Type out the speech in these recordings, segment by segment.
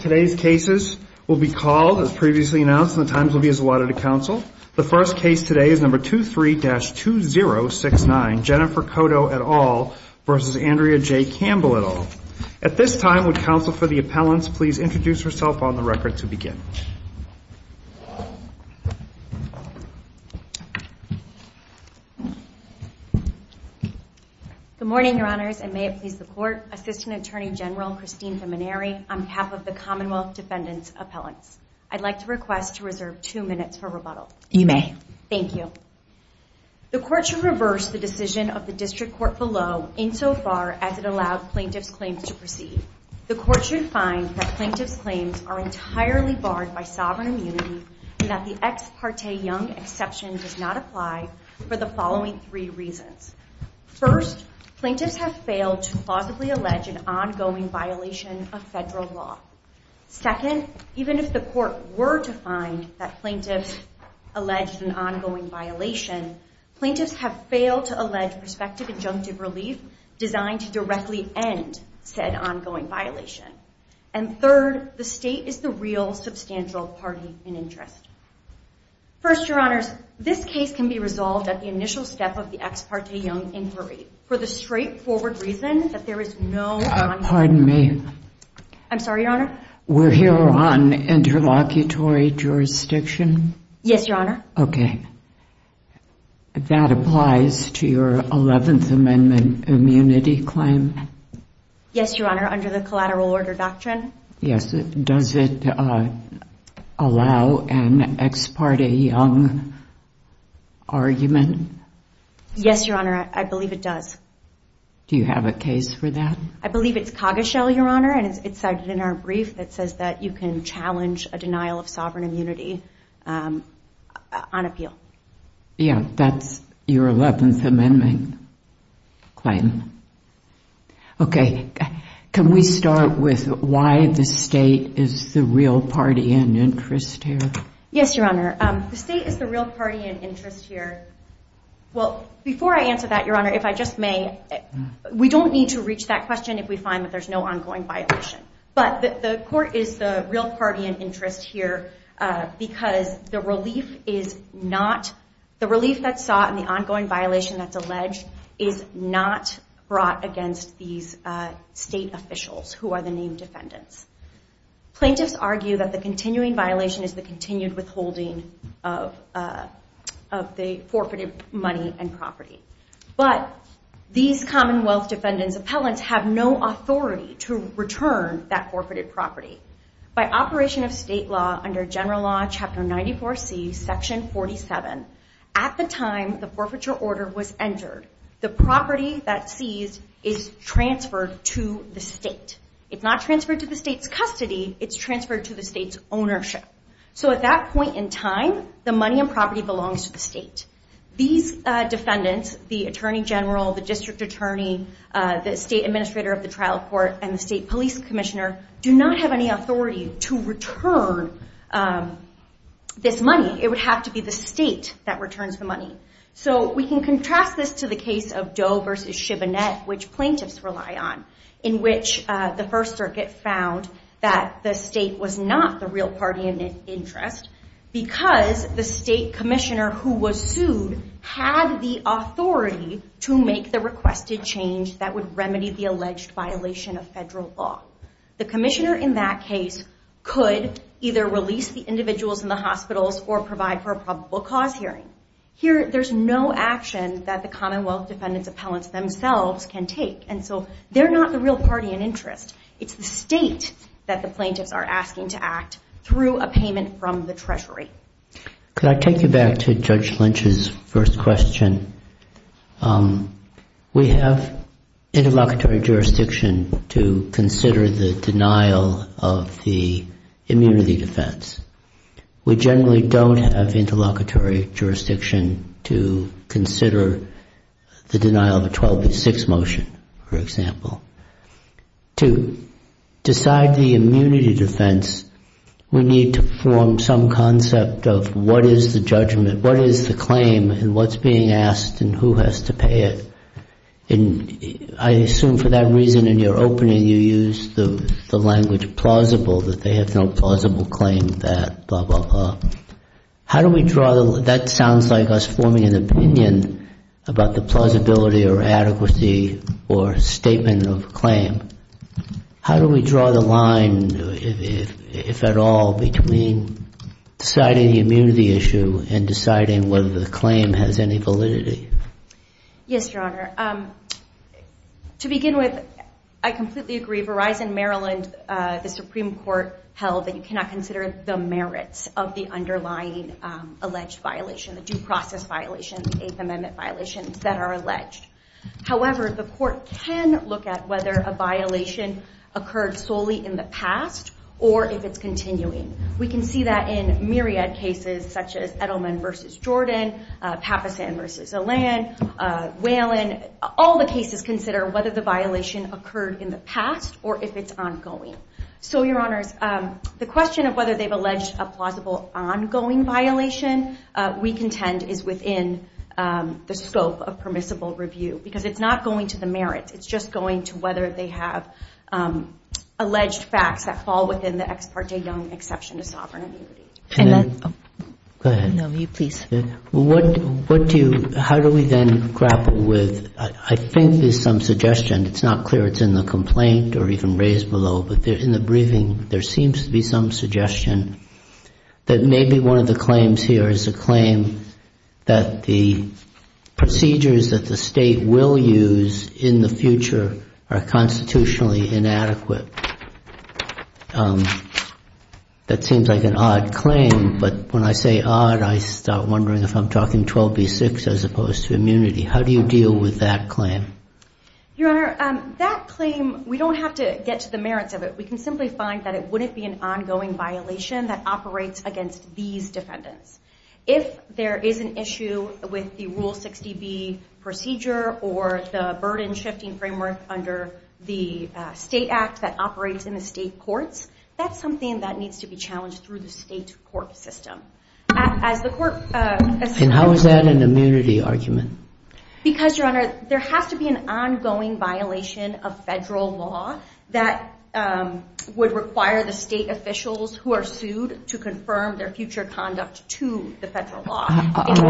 Today's cases will be called as previously announced and the times will be as allotted to counsel. The first case today is number 23-2069, Jennifer Cotto et al. v. Andrea J. Campbell et al. At this time, would counsel for the appellants please introduce herself on the record to begin. Good morning, your honors, and may it please the court. Assistant Attorney General Christine Vimineri on behalf of the Commonwealth Defendants Appellants. I'd like to request to reserve two minutes for rebuttal. You may. Thank you. The court should reverse the decision of the district court below insofar as it allowed plaintiff's claims to proceed. The court should find that plaintiff's claims are entirely barred by sovereign immunity and that the ex parte young exception does not apply for the following three reasons. First, plaintiffs have failed to plausibly allege an ongoing violation of federal law. Second, even if the court were to find that plaintiffs alleged an ongoing violation, plaintiffs have failed to allege prospective injunctive relief designed to directly end said ongoing violation. And third, the state is the real substantial party in interest. First, your honors, this case can be resolved at the initial step of the ex parte young inquiry for the straightforward reason that there is no ongoing. Pardon me. I'm sorry, your honor. We're here on interlocutory jurisdiction? Yes, your honor. Okay. That applies to your 11th Amendment immunity claim? Yes, your honor, under the collateral order doctrine. Yes. Does it allow an ex parte young argument? Yes, your honor. I believe it does. Do you have a case for that? I believe it's Coggeshell, your honor, and it's cited in our brief. It says that you can challenge a denial of sovereign immunity on appeal. Yeah, that's your 11th Amendment claim. Okay. Can we start with why the state is the real party in interest here? Yes, your honor. The state is the real party in interest here. Well, before I answer that, your honor, if I just may, we don't need to reach that question if we find that there's no ongoing violation. But the court is the real party in interest here because the relief that's sought and the ongoing violation that's alleged is not brought against these state officials who are the named defendants. Plaintiffs argue that the continuing violation is the continued withholding of the forfeited money and property. But these Commonwealth defendants' appellants have no authority to return that forfeited property. By operation of state law under General Law, Chapter 94C, Section 47, at the time the forfeiture order was entered, the property that's seized is transferred to the state. It's not transferred to the state's custody. It's transferred to the state's ownership. So at that point in time, the money and property belongs to the state. These defendants, the attorney general, the district attorney, the state administrator of the trial court, and the state police commissioner do not have any authority to return this money. It would have to be the state that returns the money. So we can contrast this to the case of Doe v. Chivinette, which plaintiffs rely on, in which the First Circuit found that the state was not the real party in interest because the state commissioner who was sued had the authority to make the requested change that would remedy the alleged violation of federal law. The commissioner in that case could either release the individuals in the hospitals or provide for a probable cause hearing. Here, there's no action that the Commonwealth defendants' appellants themselves can take, and so they're not the real party in interest. It's the state that the plaintiffs are asking to act through a payment from the Treasury. Could I take you back to Judge Lynch's first question? We have interlocutory jurisdiction to consider the denial of the immunity defense. We generally don't have interlocutory jurisdiction to consider the denial of a 12-6 motion, for example. To decide the immunity defense, we need to form some concept of what is the judgment, what is the claim, and what's being asked, and who has to pay it. I assume for that reason, in your opening, you used the language plausible, that they have no plausible claim that blah, blah, blah. How do we draw the line? It sounds like us forming an opinion about the plausibility or adequacy or statement of claim. How do we draw the line, if at all, between deciding the immunity issue and deciding whether the claim has any validity? Yes, Your Honor. To begin with, I completely agree. Verizon Maryland, the Supreme Court, held that you cannot consider the merits of the underlying alleged violation, the due process violation, the Eighth Amendment violations that are alleged. However, the court can look at whether a violation occurred solely in the past or if it's continuing. We can see that in myriad cases, such as Edelman v. Jordan, Pappasen v. Alland, Whalen. All the cases consider whether the violation occurred in the past or if it's ongoing. So, Your Honors, the question of whether they've alleged a plausible ongoing violation, we contend is within the scope of permissible review because it's not going to the merits. It's just going to whether they have alleged facts that fall within the ex parte young exception to sovereign immunity. And that's- Go ahead. No, you please. What do you- how do we then grapple with- I think there's some suggestion. It's not clear it's in the complaint or even raised below, but in the briefing, there seems to be some suggestion that maybe one of the claims here is a claim that the procedures that the State will use in the future are constitutionally inadequate. That seems like an odd claim, but when I say odd, I start wondering if I'm talking 12B6 as opposed to immunity. How do you deal with that claim? Your Honor, that claim, we don't have to get to the merits of it. We can simply find that it wouldn't be an ongoing violation that operates against these defendants. If there is an issue with the Rule 60B procedure or the burden-shifting framework under the State Act that operates in the State courts, that's something that needs to be challenged through the State court system. As the court- And how is that an immunity argument? Because, Your Honor, there has to be an ongoing violation of federal law that would require the State officials who are sued to confirm their future conduct to the federal law.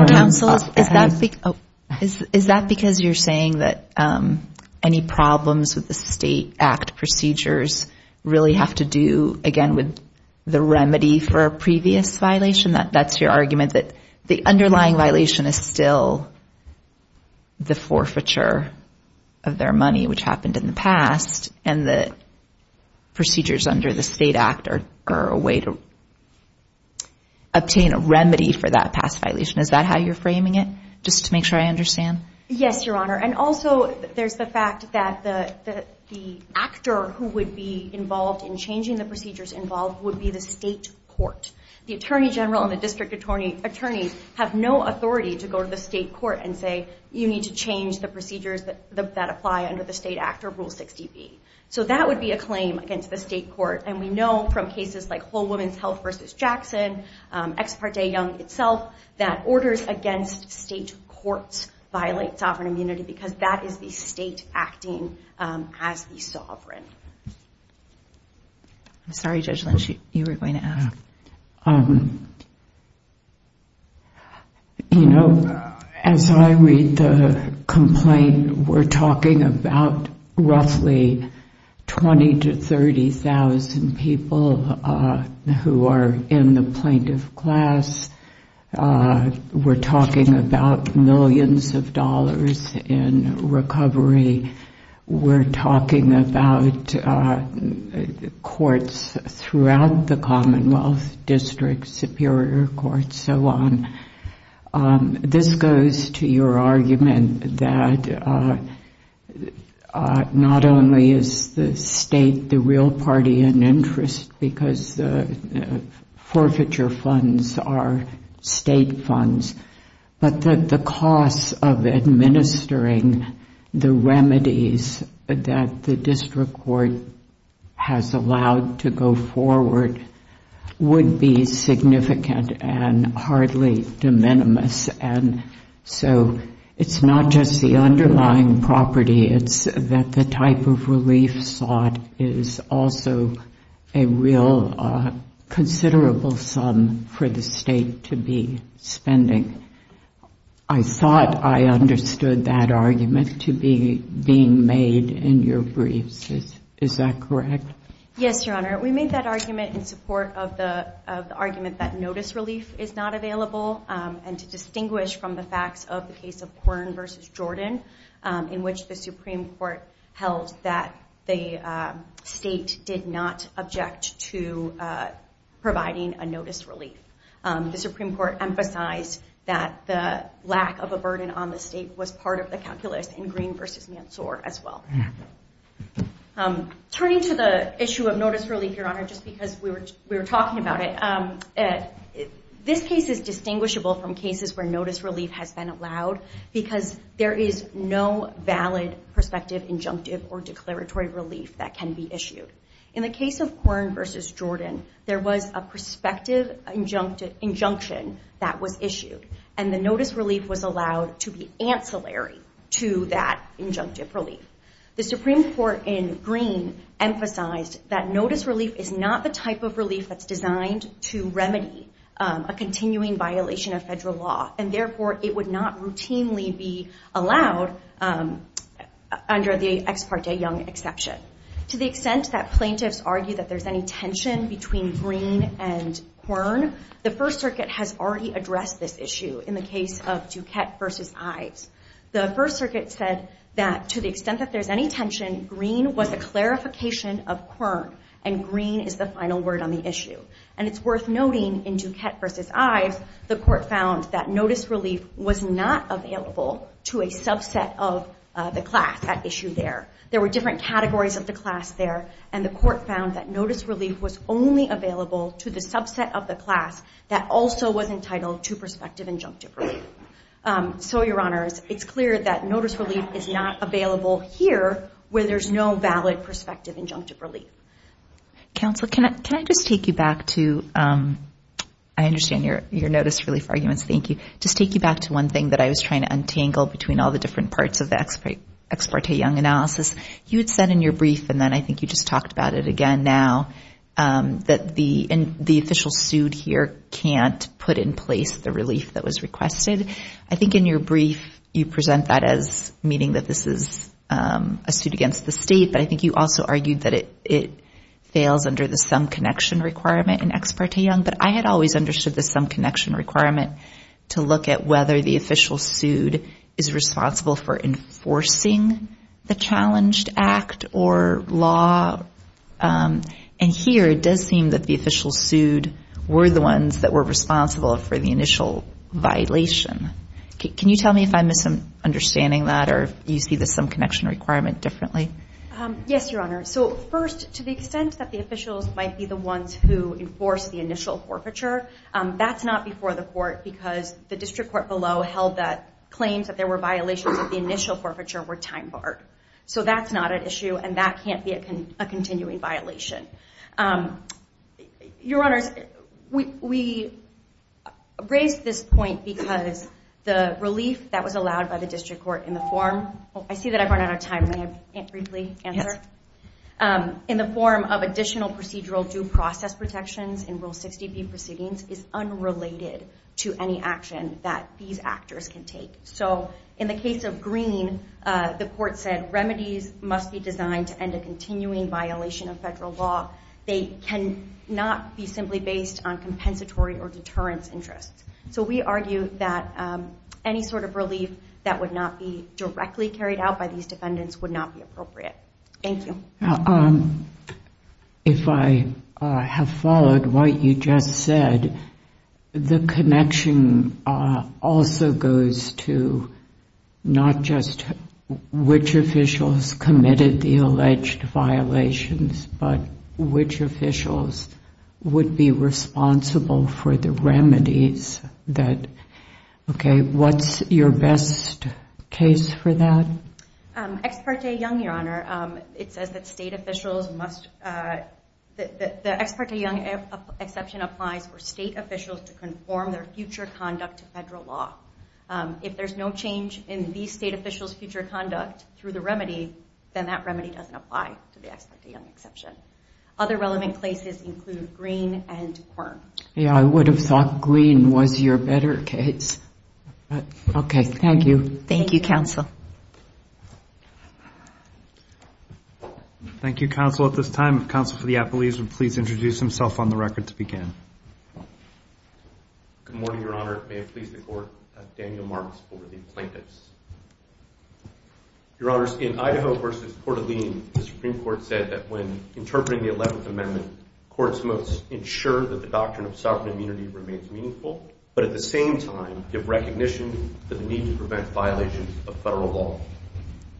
Counsel, is that because you're saying that any problems with the State Act procedures really have to do, again, with the remedy for a previous violation? That's your argument that the underlying violation is still the forfeiture of their money, which happened in the past, and the procedures under the State Act are a way to obtain a remedy for that past violation. Is that how you're framing it, just to make sure I understand? Yes, Your Honor, and also there's the fact that the actor who would be involved in changing the procedures involved would be the State court. The attorney general and the district attorney have no authority to go to the State court and say, you need to change the procedures that apply under the State Act or Rule 60B. So that would be a claim against the State court, and we know from cases like Whole Woman's Health v. Jackson, Ex Parte Young itself, that orders against State courts violate sovereign immunity because that is the State acting as the sovereign. I'm sorry, Judge Lynch, you were going to ask. You know, as I read the complaint, we're talking about roughly 20,000 to 30,000 people who are in the plaintiff class. We're talking about millions of dollars in recovery. We're talking about courts throughout the Commonwealth, districts, superior courts, so on. This goes to your argument that not only is the State the real party in interest because the forfeiture funds are State funds, but that the costs of administering the remedies that the district court has allowed to go forward would be significant and hardly de minimis. And so it's not just the underlying property. It's that the type of relief sought is also a real considerable sum for the State to be spending. I thought I understood that argument to be being made in your briefs. Is that correct? Yes, Your Honor. We made that argument in support of the argument that notice relief is not available and to distinguish from the facts of the case of Quirin v. Jordan in which the Supreme Court held that the State did not object to providing a notice relief. The Supreme Court emphasized that the lack of a burden on the State was part of the calculus in Green v. Mansour as well. Turning to the issue of notice relief, Your Honor, just because we were talking about it, this case is distinguishable from cases where notice relief has been allowed because there is no valid prospective injunctive or declaratory relief that can be issued. In the case of Quirin v. Jordan, there was a prospective injunction that was issued, and the notice relief was allowed to be ancillary to that injunctive relief. The Supreme Court in Green emphasized that notice relief is not the type of relief that's designed to remedy a continuing violation of federal law, and therefore it would not routinely be allowed under the Ex Parte Young exception. To the extent that plaintiffs argue that there's any tension between Green and Quirin, the First Circuit has already addressed this issue in the case of Duquette v. Ives. The First Circuit said that to the extent that there's any tension, Green was a clarification of Quirin, and Green is the final word on the issue. And it's worth noting in Duquette v. Ives, the Court found that notice relief was not available to a subset of the class at issue there. There were different categories of the class there, and the Court found that notice relief was only available to the subset of the class that also was entitled to prospective injunctive relief. So, Your Honors, it's clear that notice relief is not available here where there's no valid prospective injunctive relief. Counsel, can I just take you back to—I understand your notice relief arguments. Thank you. Just take you back to one thing that I was trying to untangle between all the different parts of the Ex Parte Young analysis. You had said in your brief, and then I think you just talked about it again now, that the official sued here can't put in place the relief that was requested. I think in your brief, you present that as meaning that this is a suit against the state, but I think you also argued that it fails under the sum connection requirement in Ex Parte Young. But I had always understood the sum connection requirement to look at whether the official sued is responsible for enforcing the challenged act or law. And here, it does seem that the officials sued were the ones that were responsible for the initial violation. Can you tell me if I'm misunderstanding that or you see the sum connection requirement differently? Yes, Your Honor. So, first, to the extent that the officials might be the ones who enforce the initial forfeiture, that's not before the court because the district court below held that claims that there were violations of the initial forfeiture were time barred. So, that's not an issue, and that can't be a continuing violation. Your Honors, we raise this point because the relief that was allowed by the district court in the form— I see that I've run out of time. May I briefly answer? Yes. In the form of additional procedural due process protections in Rule 60B proceedings is unrelated to any action that these actors can take. So, in the case of Green, the court said, remedies must be designed to end a continuing violation of federal law. They cannot be simply based on compensatory or deterrence interests. So, we argue that any sort of relief that would not be directly carried out by these defendants would not be appropriate. Thank you. If I have followed what you just said, the connection also goes to not just which officials committed the alleged violations, but which officials would be responsible for the remedies. Okay, what's your best case for that? Ex parte Young, Your Honor, it says that state officials must— the Ex parte Young exception applies for state officials to conform their future conduct to federal law. If there's no change in these state officials' future conduct through the remedy, then that remedy doesn't apply to the Ex parte Young exception. Other relevant places include Green and Quirm. Yeah, I would have thought Green was your better case. Okay, thank you. Thank you, counsel. Thank you, counsel. At this time, counsel for the appellees would please introduce himself on the record to begin. Good morning, Your Honor. May it please the Court, Daniel Marks for the plaintiffs. Your Honors, in Idaho v. Coeur d'Alene, the Supreme Court said that when interpreting the 11th Amendment, courts must ensure that the doctrine of sovereign immunity remains meaningful, but at the same time give recognition to the need to prevent violations of federal law.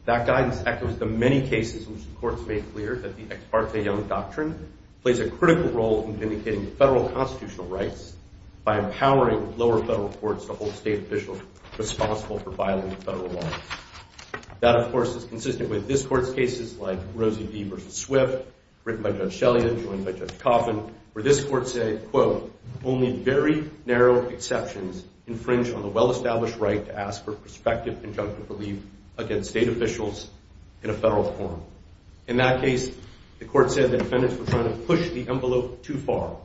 That guidance echoes the many cases in which the courts made clear that the Ex parte Young doctrine plays a critical role in vindicating federal constitutional rights by empowering lower federal courts to hold state officials responsible for violating federal laws. That, of course, is consistent with this Court's cases like Rosie D. v. Swift, written by Judge Shelley and joined by Judge Coffin, where this Court said, quote, only very narrow exceptions infringe on the well-established right to ask for prospective and judgmental leave against state officials in a federal forum. In that case, the Court said the defendants were trying to push the envelope too far,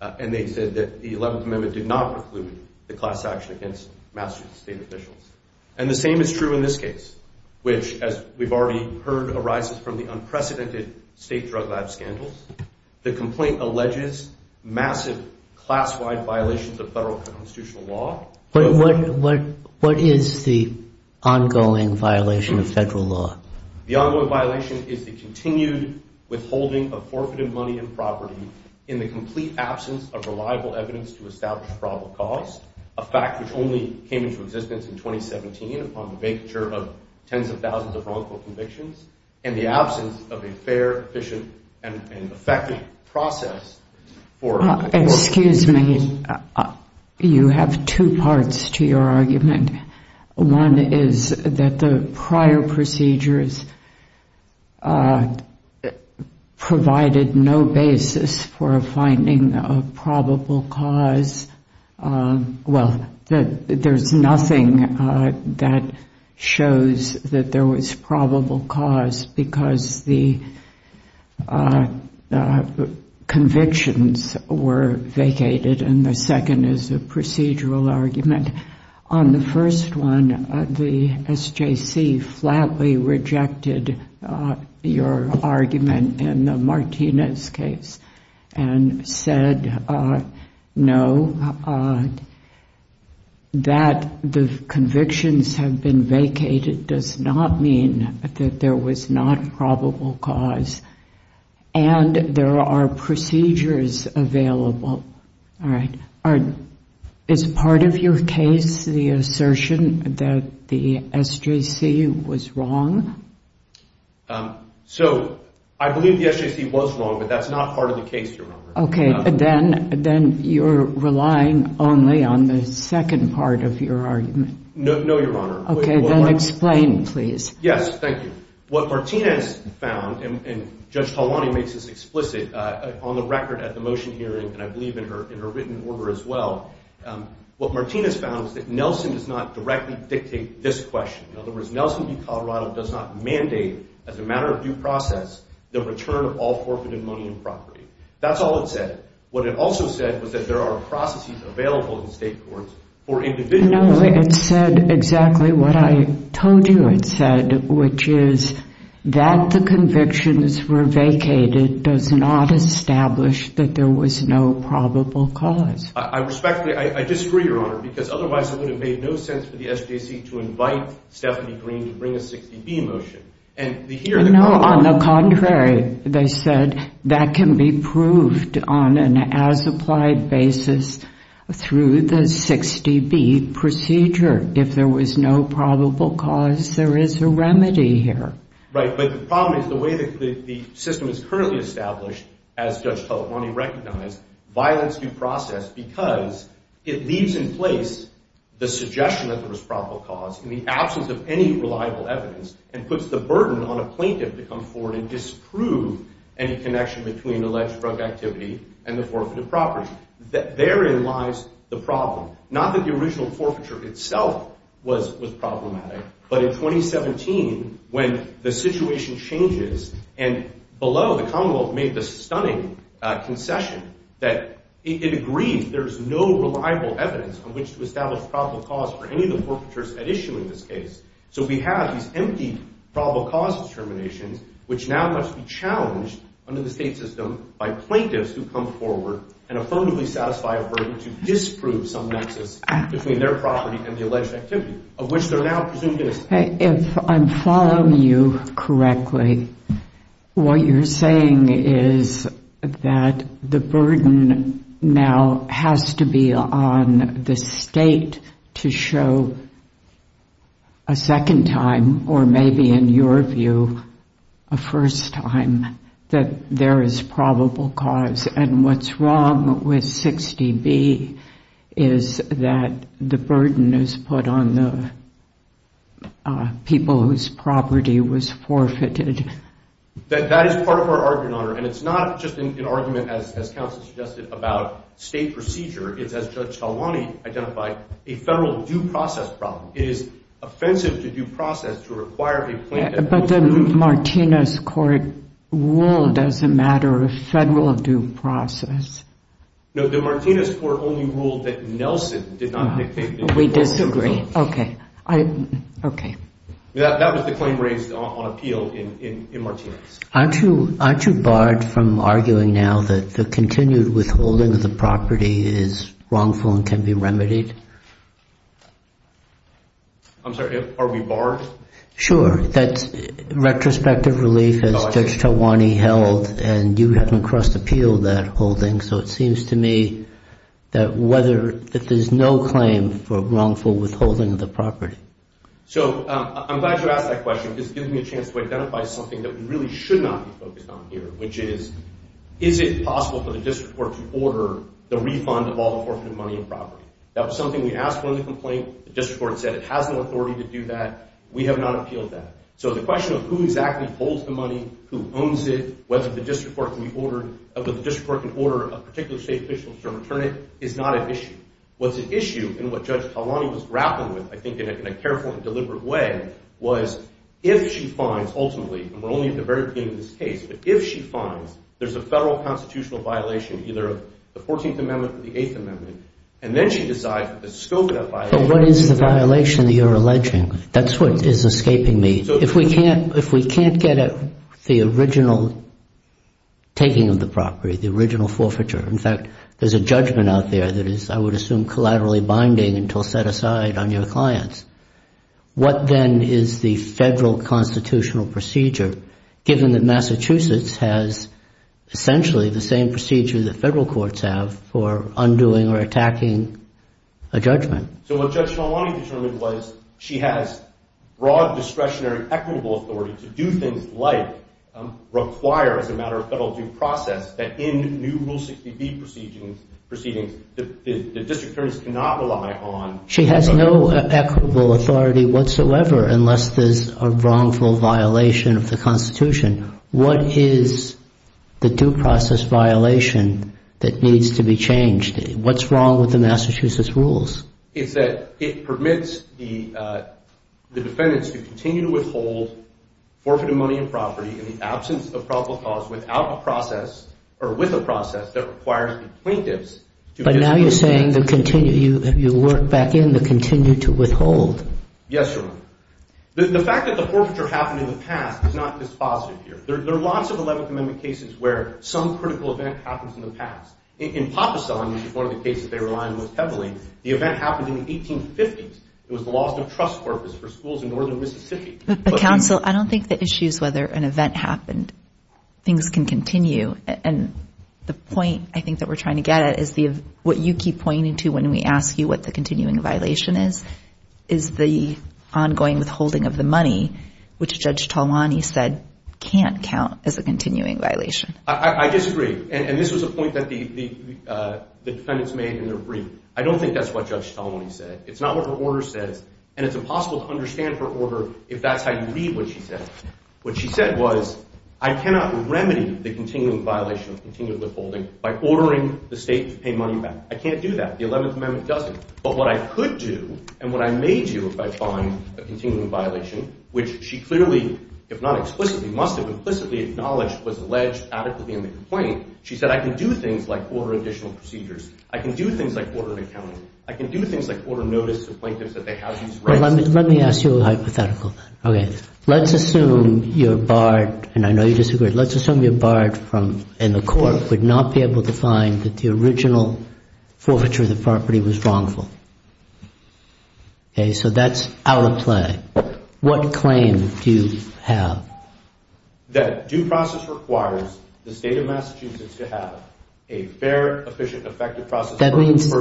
and they said that the 11th Amendment did not preclude the class action against Massachusetts state officials. And the same is true in this case, which, as we've already heard, arises from the unprecedented state drug lab scandals. The complaint alleges massive class-wide violations of federal constitutional law. But what is the ongoing violation of federal law? The ongoing violation is the continued withholding of forfeited money and property in the complete absence of reliable evidence to establish probable cause, a fact which only came into existence in 2017 upon the vacature of tens of thousands of wrongful convictions, and the absence of a fair, efficient, and effective process for- Excuse me. You have two parts to your argument. One is that the prior procedures provided no basis for a finding of probable cause. Well, there's nothing that shows that there was probable cause because the convictions were vacated, and the second is a procedural argument. On the first one, the SJC flatly rejected your argument in the Martinez case and said no, that the convictions have been vacated does not mean that there was not probable cause, and there are procedures available. Is part of your case the assertion that the SJC was wrong? So I believe the SJC was wrong, but that's not part of the case, Your Honor. Okay, then you're relying only on the second part of your argument. No, Your Honor. Okay, then explain, please. Yes, thank you. What Martinez found, and Judge Talwani makes this explicit on the record at the motion hearing, and I believe in her written order as well, what Martinez found was that Nelson does not directly dictate this question. In other words, Nelson v. Colorado does not mandate as a matter of due process the return of all forfeited money and property. That's all it said. What it also said was that there are processes available in state courts for individuals. No, it said exactly what I told you it said, which is that the convictions were vacated does not establish that there was no probable cause. I respectfully disagree, Your Honor, because otherwise it would have made no sense for the SJC to invite Stephanie Green to bring a 60B motion. On the contrary, they said that can be proved on an as-applied basis through the 60B procedure. If there was no probable cause, there is a remedy here. Right, but the problem is the way the system is currently established, as Judge Talabani recognized, violence due process, because it leaves in place the suggestion that there was probable cause in the absence of any reliable evidence, and puts the burden on a plaintiff to come forward and disprove any connection between alleged drug activity and the forfeited property. Therein lies the problem. Not that the original forfeiture itself was problematic, but in 2017 when the situation changes, and below the commonwealth made the stunning concession that it agrees there is no reliable evidence on which to establish probable cause for any of the forfeitures at issue in this case. So we have these empty probable cause determinations, which now must be challenged under the state system by plaintiffs who come forward and affirmably satisfy a burden to disprove some nexus between their property and the alleged activity, of which they are now presumed innocent. If I'm following you correctly, what you're saying is that the burden now has to be on the state to show a second time, or maybe in your view a first time, that there is probable cause. And what's wrong with 60B is that the burden is put on the people whose property was forfeited. That is part of our argument, Your Honor. And it's not just an argument, as counsel suggested, about state procedure. It's, as Judge Talwani identified, a federal due process problem. It is offensive to due process to require a plaintiff. But the Martinez court ruled as a matter of federal due process. No, the Martinez court only ruled that Nelson did not dictate the due process. We disagree. Okay. That was the claim raised on appeal in Martinez. Aren't you barred from arguing now that the continued withholding of the property is wrongful and can be remedied? I'm sorry, are we barred? Sure, that's retrospective relief, as Judge Talwani held, and you haven't crossed appeal that holding. So it seems to me that there's no claim for wrongful withholding of the property. So I'm glad you asked that question because it gives me a chance to identify something that we really should not be focused on here, which is, is it possible for the district court to order the refund of all the forfeited money and property? That was something we asked for in the complaint. The district court said it has no authority to do that. We have not appealed that. So the question of who exactly holds the money, who owns it, whether the district court can order a particular state official to return it is not at issue. What's at issue, and what Judge Talwani was grappling with, I think, in a careful and deliberate way, was if she finds, ultimately, and we're only at the very beginning of this case, but if she finds there's a federal constitutional violation, either of the 14th Amendment or the 8th Amendment, and then she decides that the scope of that violation— But what is the violation that you're alleging? That's what is escaping me. If we can't get at the original taking of the property, the original forfeiture, in fact, there's a judgment out there that is, I would assume, collaterally binding until set aside on your clients, what then is the federal constitutional procedure, given that Massachusetts has essentially the same procedure that federal courts have for undoing or attacking a judgment? So what Judge Talwani determined was she has broad discretionary equitable authority to do things like require, as a matter of federal due process, that in new Rule 60B proceedings, the district attorneys cannot rely on— She has no equitable authority whatsoever unless there's a wrongful violation of the Constitution. What is the due process violation that needs to be changed? What's wrong with the Massachusetts rules? It's that it permits the defendants to continue to withhold forfeited money and property in the absence of probable cause without a process or with a process that requires the plaintiffs to— But now you're saying you work back in the continue to withhold. Yes, Your Honor. The fact that the forfeiture happened in the past is not dispositive here. There are lots of 11th Amendment cases where some critical event happens in the past. In Papasan, which is one of the cases they rely on most heavily, the event happened in the 1850s. It was the loss of trust purpose for schools in northern Mississippi. But, counsel, I don't think the issue is whether an event happened. Things can continue. And the point, I think, that we're trying to get at is what you keep pointing to when we ask you what the continuing violation is, is the ongoing withholding of the money, which Judge Talwani said can't count as a continuing violation. I disagree. And this was a point that the defendants made in their brief. I don't think that's what Judge Talwani said. It's not what her order says. And it's impossible to understand her order if that's how you read what she said. What she said was, I cannot remedy the continuing violation of continued withholding by ordering the state to pay money back. I can't do that. The 11th Amendment doesn't. But what I could do and what I may do if I find a continuing violation, which she clearly, if not explicitly, must have implicitly acknowledged was alleged adequately in the complaint, she said I can do things like order additional procedures. I can do things like order accounting. I can do things like order notice to plaintiffs that they have these rights. Let me ask you a hypothetical. Okay. Let's assume you're barred, and I know you disagree, let's assume you're barred in the court, would not be able to find that the original forfeiture of the property was wrongful. Okay. So that's out of play. What claim do you have? That due process requires the state of Massachusetts to have a fair, efficient, effective process. That means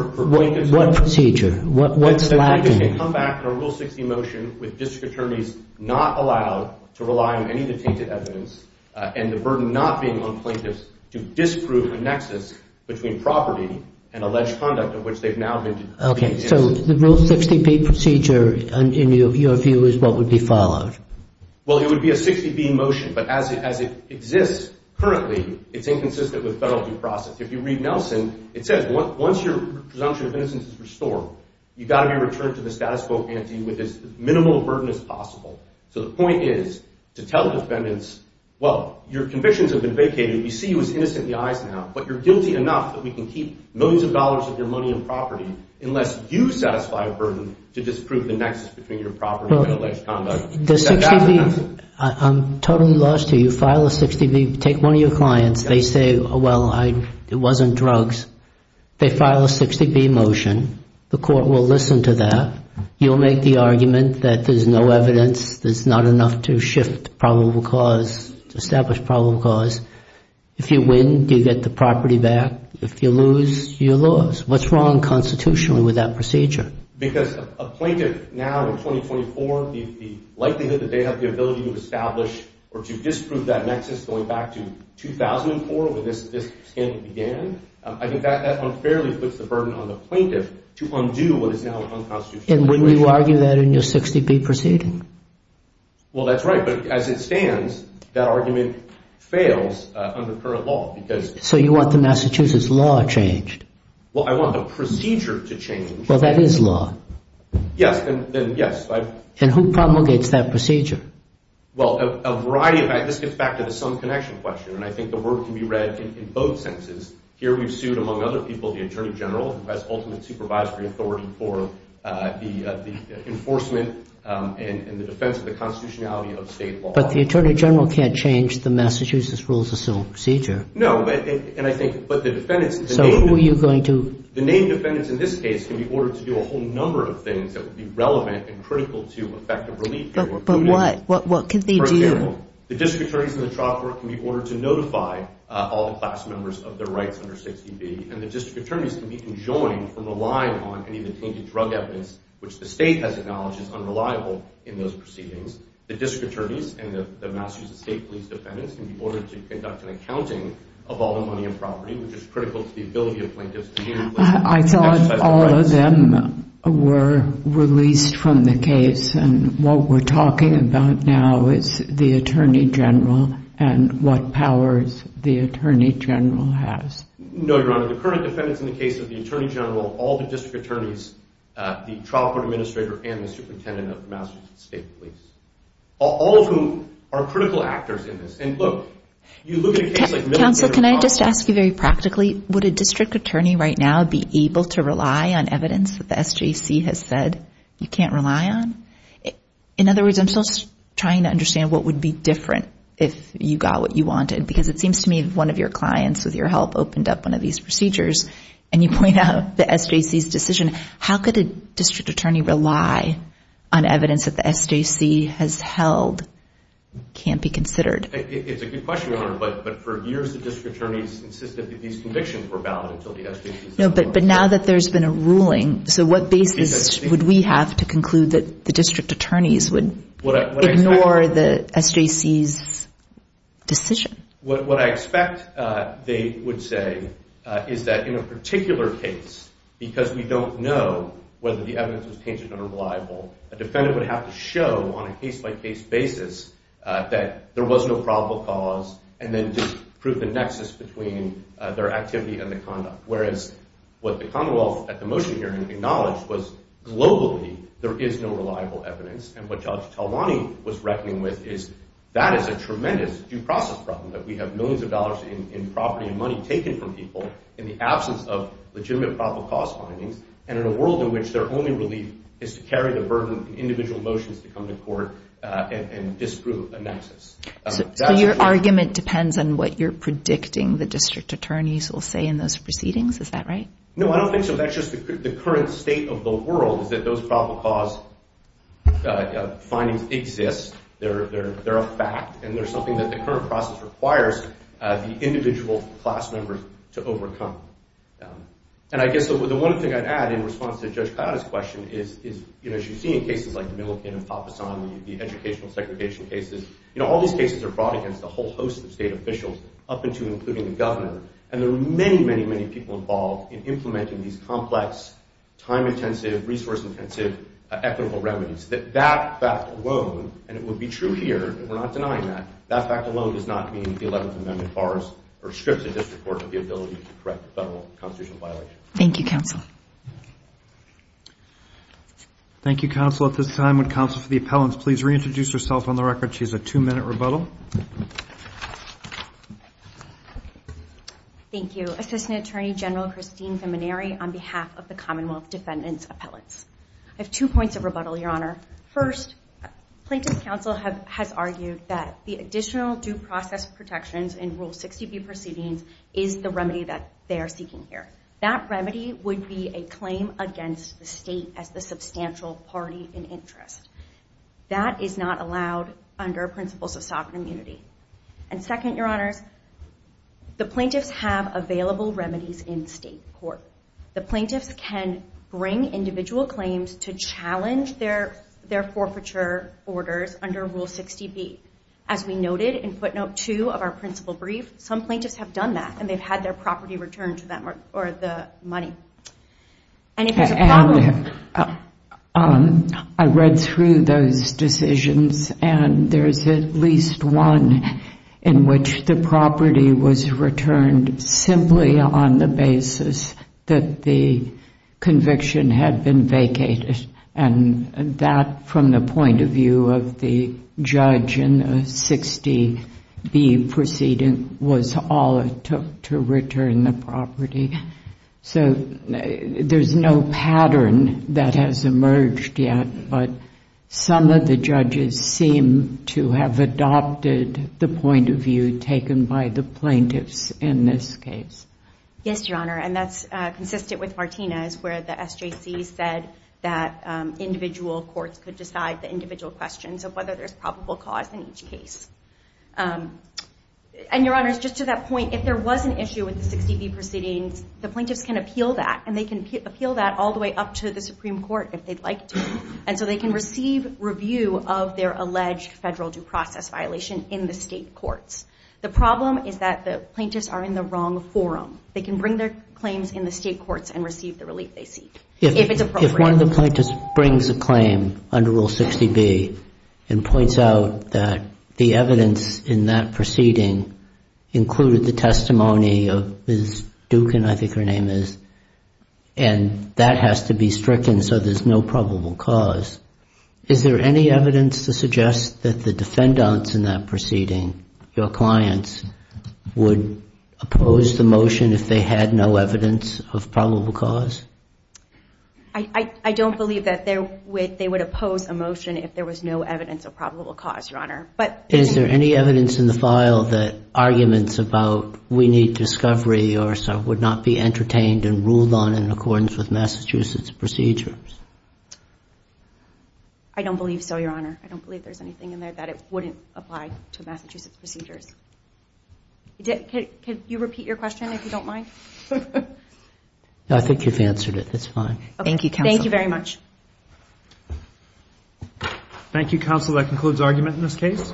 what procedure? What's lacking? Plaintiffs can come back under Rule 60 motion with district attorneys not allowed to rely on any detainted evidence and the burden not being on plaintiffs to disprove a nexus between property and alleged conduct of which they've now been. Okay. So the Rule 60B procedure in your view is what would be followed? Well, it would be a 60B motion, but as it exists currently, it's inconsistent with federal due process. If you read Nelson, it says once your presumption of innocence is restored, you've got to be returned to the status quo ante with as minimal a burden as possible. So the point is to tell the defendants, well, your convictions have been vacated. We see you as innocent in the eyes now, but you're guilty enough that we can keep millions of dollars of your money and property unless you satisfy a burden to disprove the nexus between your property and alleged conduct. I'm totally lost here. You file a 60B. Take one of your clients. They say, well, it wasn't drugs. They file a 60B motion. The court will listen to that. You'll make the argument that there's no evidence. There's not enough to shift probable cause, to establish probable cause. If you win, you get the property back. If you lose, you lose. What's wrong constitutionally with that procedure? Because a plaintiff now in 2024, the likelihood that they have the ability to establish or to disprove that nexus going back to 2004 when this scandal began, I think that unfairly puts the burden on the plaintiff to undo what is now an unconstitutional situation. And wouldn't you argue that in your 60B proceeding? Well, that's right. But as it stands, that argument fails under current law. So you want the Massachusetts law changed? Well, I want the procedure to change. Well, that is law. Yes, then yes. And who promulgates that procedure? Well, a variety. This gets back to the sum connection question. And I think the word can be read in both senses. Here we've sued, among other people, the Attorney General, who has ultimate supervisory authority for the enforcement and the defense of the constitutionality of state law. But the Attorney General can't change the Massachusetts rules of civil procedure. No. And I think the defendants in this case can be ordered to do a whole number of things that would be relevant and critical to effective relief. But what? What can they do? For example, the district attorneys in the trial court can be ordered to notify all the class members of their rights under 60B. And the district attorneys can be enjoined from relying on any of the tainted drug evidence, which the state has acknowledged is unreliable in those proceedings. The district attorneys and the Massachusetts State Police defendants can be ordered to conduct an accounting of all the money and property, which is critical to the ability of plaintiffs to be able to exercise their rights. I thought all of them were released from the case. And what we're talking about now is the Attorney General and what powers the Attorney General has. No, Your Honor. The current defendants in the case of the Attorney General, all the district attorneys, the trial court administrator, and the superintendent of the Massachusetts State Police, all of whom are critical actors in this. And, look, you look at a case like Millard v. Ross. Counsel, can I just ask you very practically, would a district attorney right now be able to rely on evidence that the SJC has said you can't rely on? In other words, I'm still trying to understand what would be different if you got what you wanted, because it seems to me that one of your clients, with your help, opened up one of these procedures, and you point out the SJC's decision. How could a district attorney rely on evidence that the SJC has held can't be considered? It's a good question, Your Honor, but for years the district attorneys insisted that these convictions were valid until the SJC said they weren't. No, but now that there's been a ruling, so what basis would we have to conclude that the district attorneys would ignore the SJC's decision? What I expect they would say is that in a particular case, because we don't know whether the evidence was tangent or reliable, a defendant would have to show on a case-by-case basis that there was no probable cause, and then just prove the nexus between their activity and the conduct. Whereas what the Commonwealth at the motion hearing acknowledged was globally there is no reliable evidence, and what Judge Talwani was reckoning with is that is a tremendous due process problem, that we have millions of dollars in property and money taken from people in the absence of legitimate probable cause findings, and in a world in which their only relief is to carry the burden of individual motions to come to court and disprove a nexus. So your argument depends on what you're predicting the district attorneys will say in those proceedings, is that right? No, I don't think so. That's just the current state of the world, is that those probable cause findings exist, they're a fact, and they're something that the current process requires the individual class members to overcome. And I guess the one thing I'd add in response to Judge Kayada's question is, you know, as you see in cases like the Millikan and Fafasan, the educational segregation cases, you know, all these cases are brought against a whole host of state officials, up until including the governor, and there are many, many, many people involved in implementing these complex, time-intensive, resource-intensive, equitable remedies, that that fact alone, and it would be true here, and we're not denying that, that fact alone does not mean the 11th Amendment bars or strips a district court of the ability to correct a federal constitutional violation. Thank you, counsel. Thank you, counsel. At this time, would counsel for the appellants please reintroduce herself on the record? She has a two-minute rebuttal. Thank you. Assistant Attorney General Christine Vimineri on behalf of the Commonwealth Defendant's Appellants. I have two points of rebuttal, Your Honor. First, plaintiff's counsel has argued that the additional due process protections in Rule 60B proceedings is the remedy that they are seeking here. That remedy would be a claim against the state as the substantial party in interest. That is not allowed under principles of sovereign immunity. And second, Your Honors, the plaintiffs have available remedies in state court. The plaintiffs can bring individual claims to challenge their forfeiture orders under Rule 60B. As we noted in footnote two of our principal brief, some plaintiffs have done that, and they've had their property returned to them or the money. And if there's a problem... I read through those decisions, and there's at least one in which the property was returned simply on the basis that the conviction had been vacated. And that, from the point of view of the judge in the 60B proceeding, was all it took to return the property. So there's no pattern that has emerged yet, but some of the judges seem to have adopted the point of view taken by the plaintiffs in this case. Yes, Your Honor. And that's consistent with Martinez, where the SJC said that individual courts could decide the individual questions of whether there's probable cause in each case. And, Your Honors, just to that point, if there was an issue with the 60B proceedings, the plaintiffs can appeal that, and they can appeal that all the way up to the Supreme Court if they'd like to. And so they can receive review of their alleged federal due process violation in the state courts. The problem is that the plaintiffs are in the wrong forum. They can bring their claims in the state courts and receive the relief they seek, if it's appropriate. If one of the plaintiffs brings a claim under Rule 60B and points out that the evidence in that proceeding included the testimony of Ms. Dukin, I think her name is, and that has to be stricken so there's no probable cause, is there any evidence to suggest that the defendants in that proceeding, your clients, would oppose the motion if they had no evidence of probable cause? I don't believe that they would oppose a motion if there was no evidence of probable cause, Your Honor. Is there any evidence in the file that arguments about we need discovery or so would not be entertained and ruled on in accordance with Massachusetts procedures? I don't believe so, Your Honor. I don't believe there's anything in there that it wouldn't apply to Massachusetts procedures. Can you repeat your question, if you don't mind? I think you've answered it. It's fine. Thank you, Counsel. Thank you very much. Thank you, Counsel. That concludes argument in this case.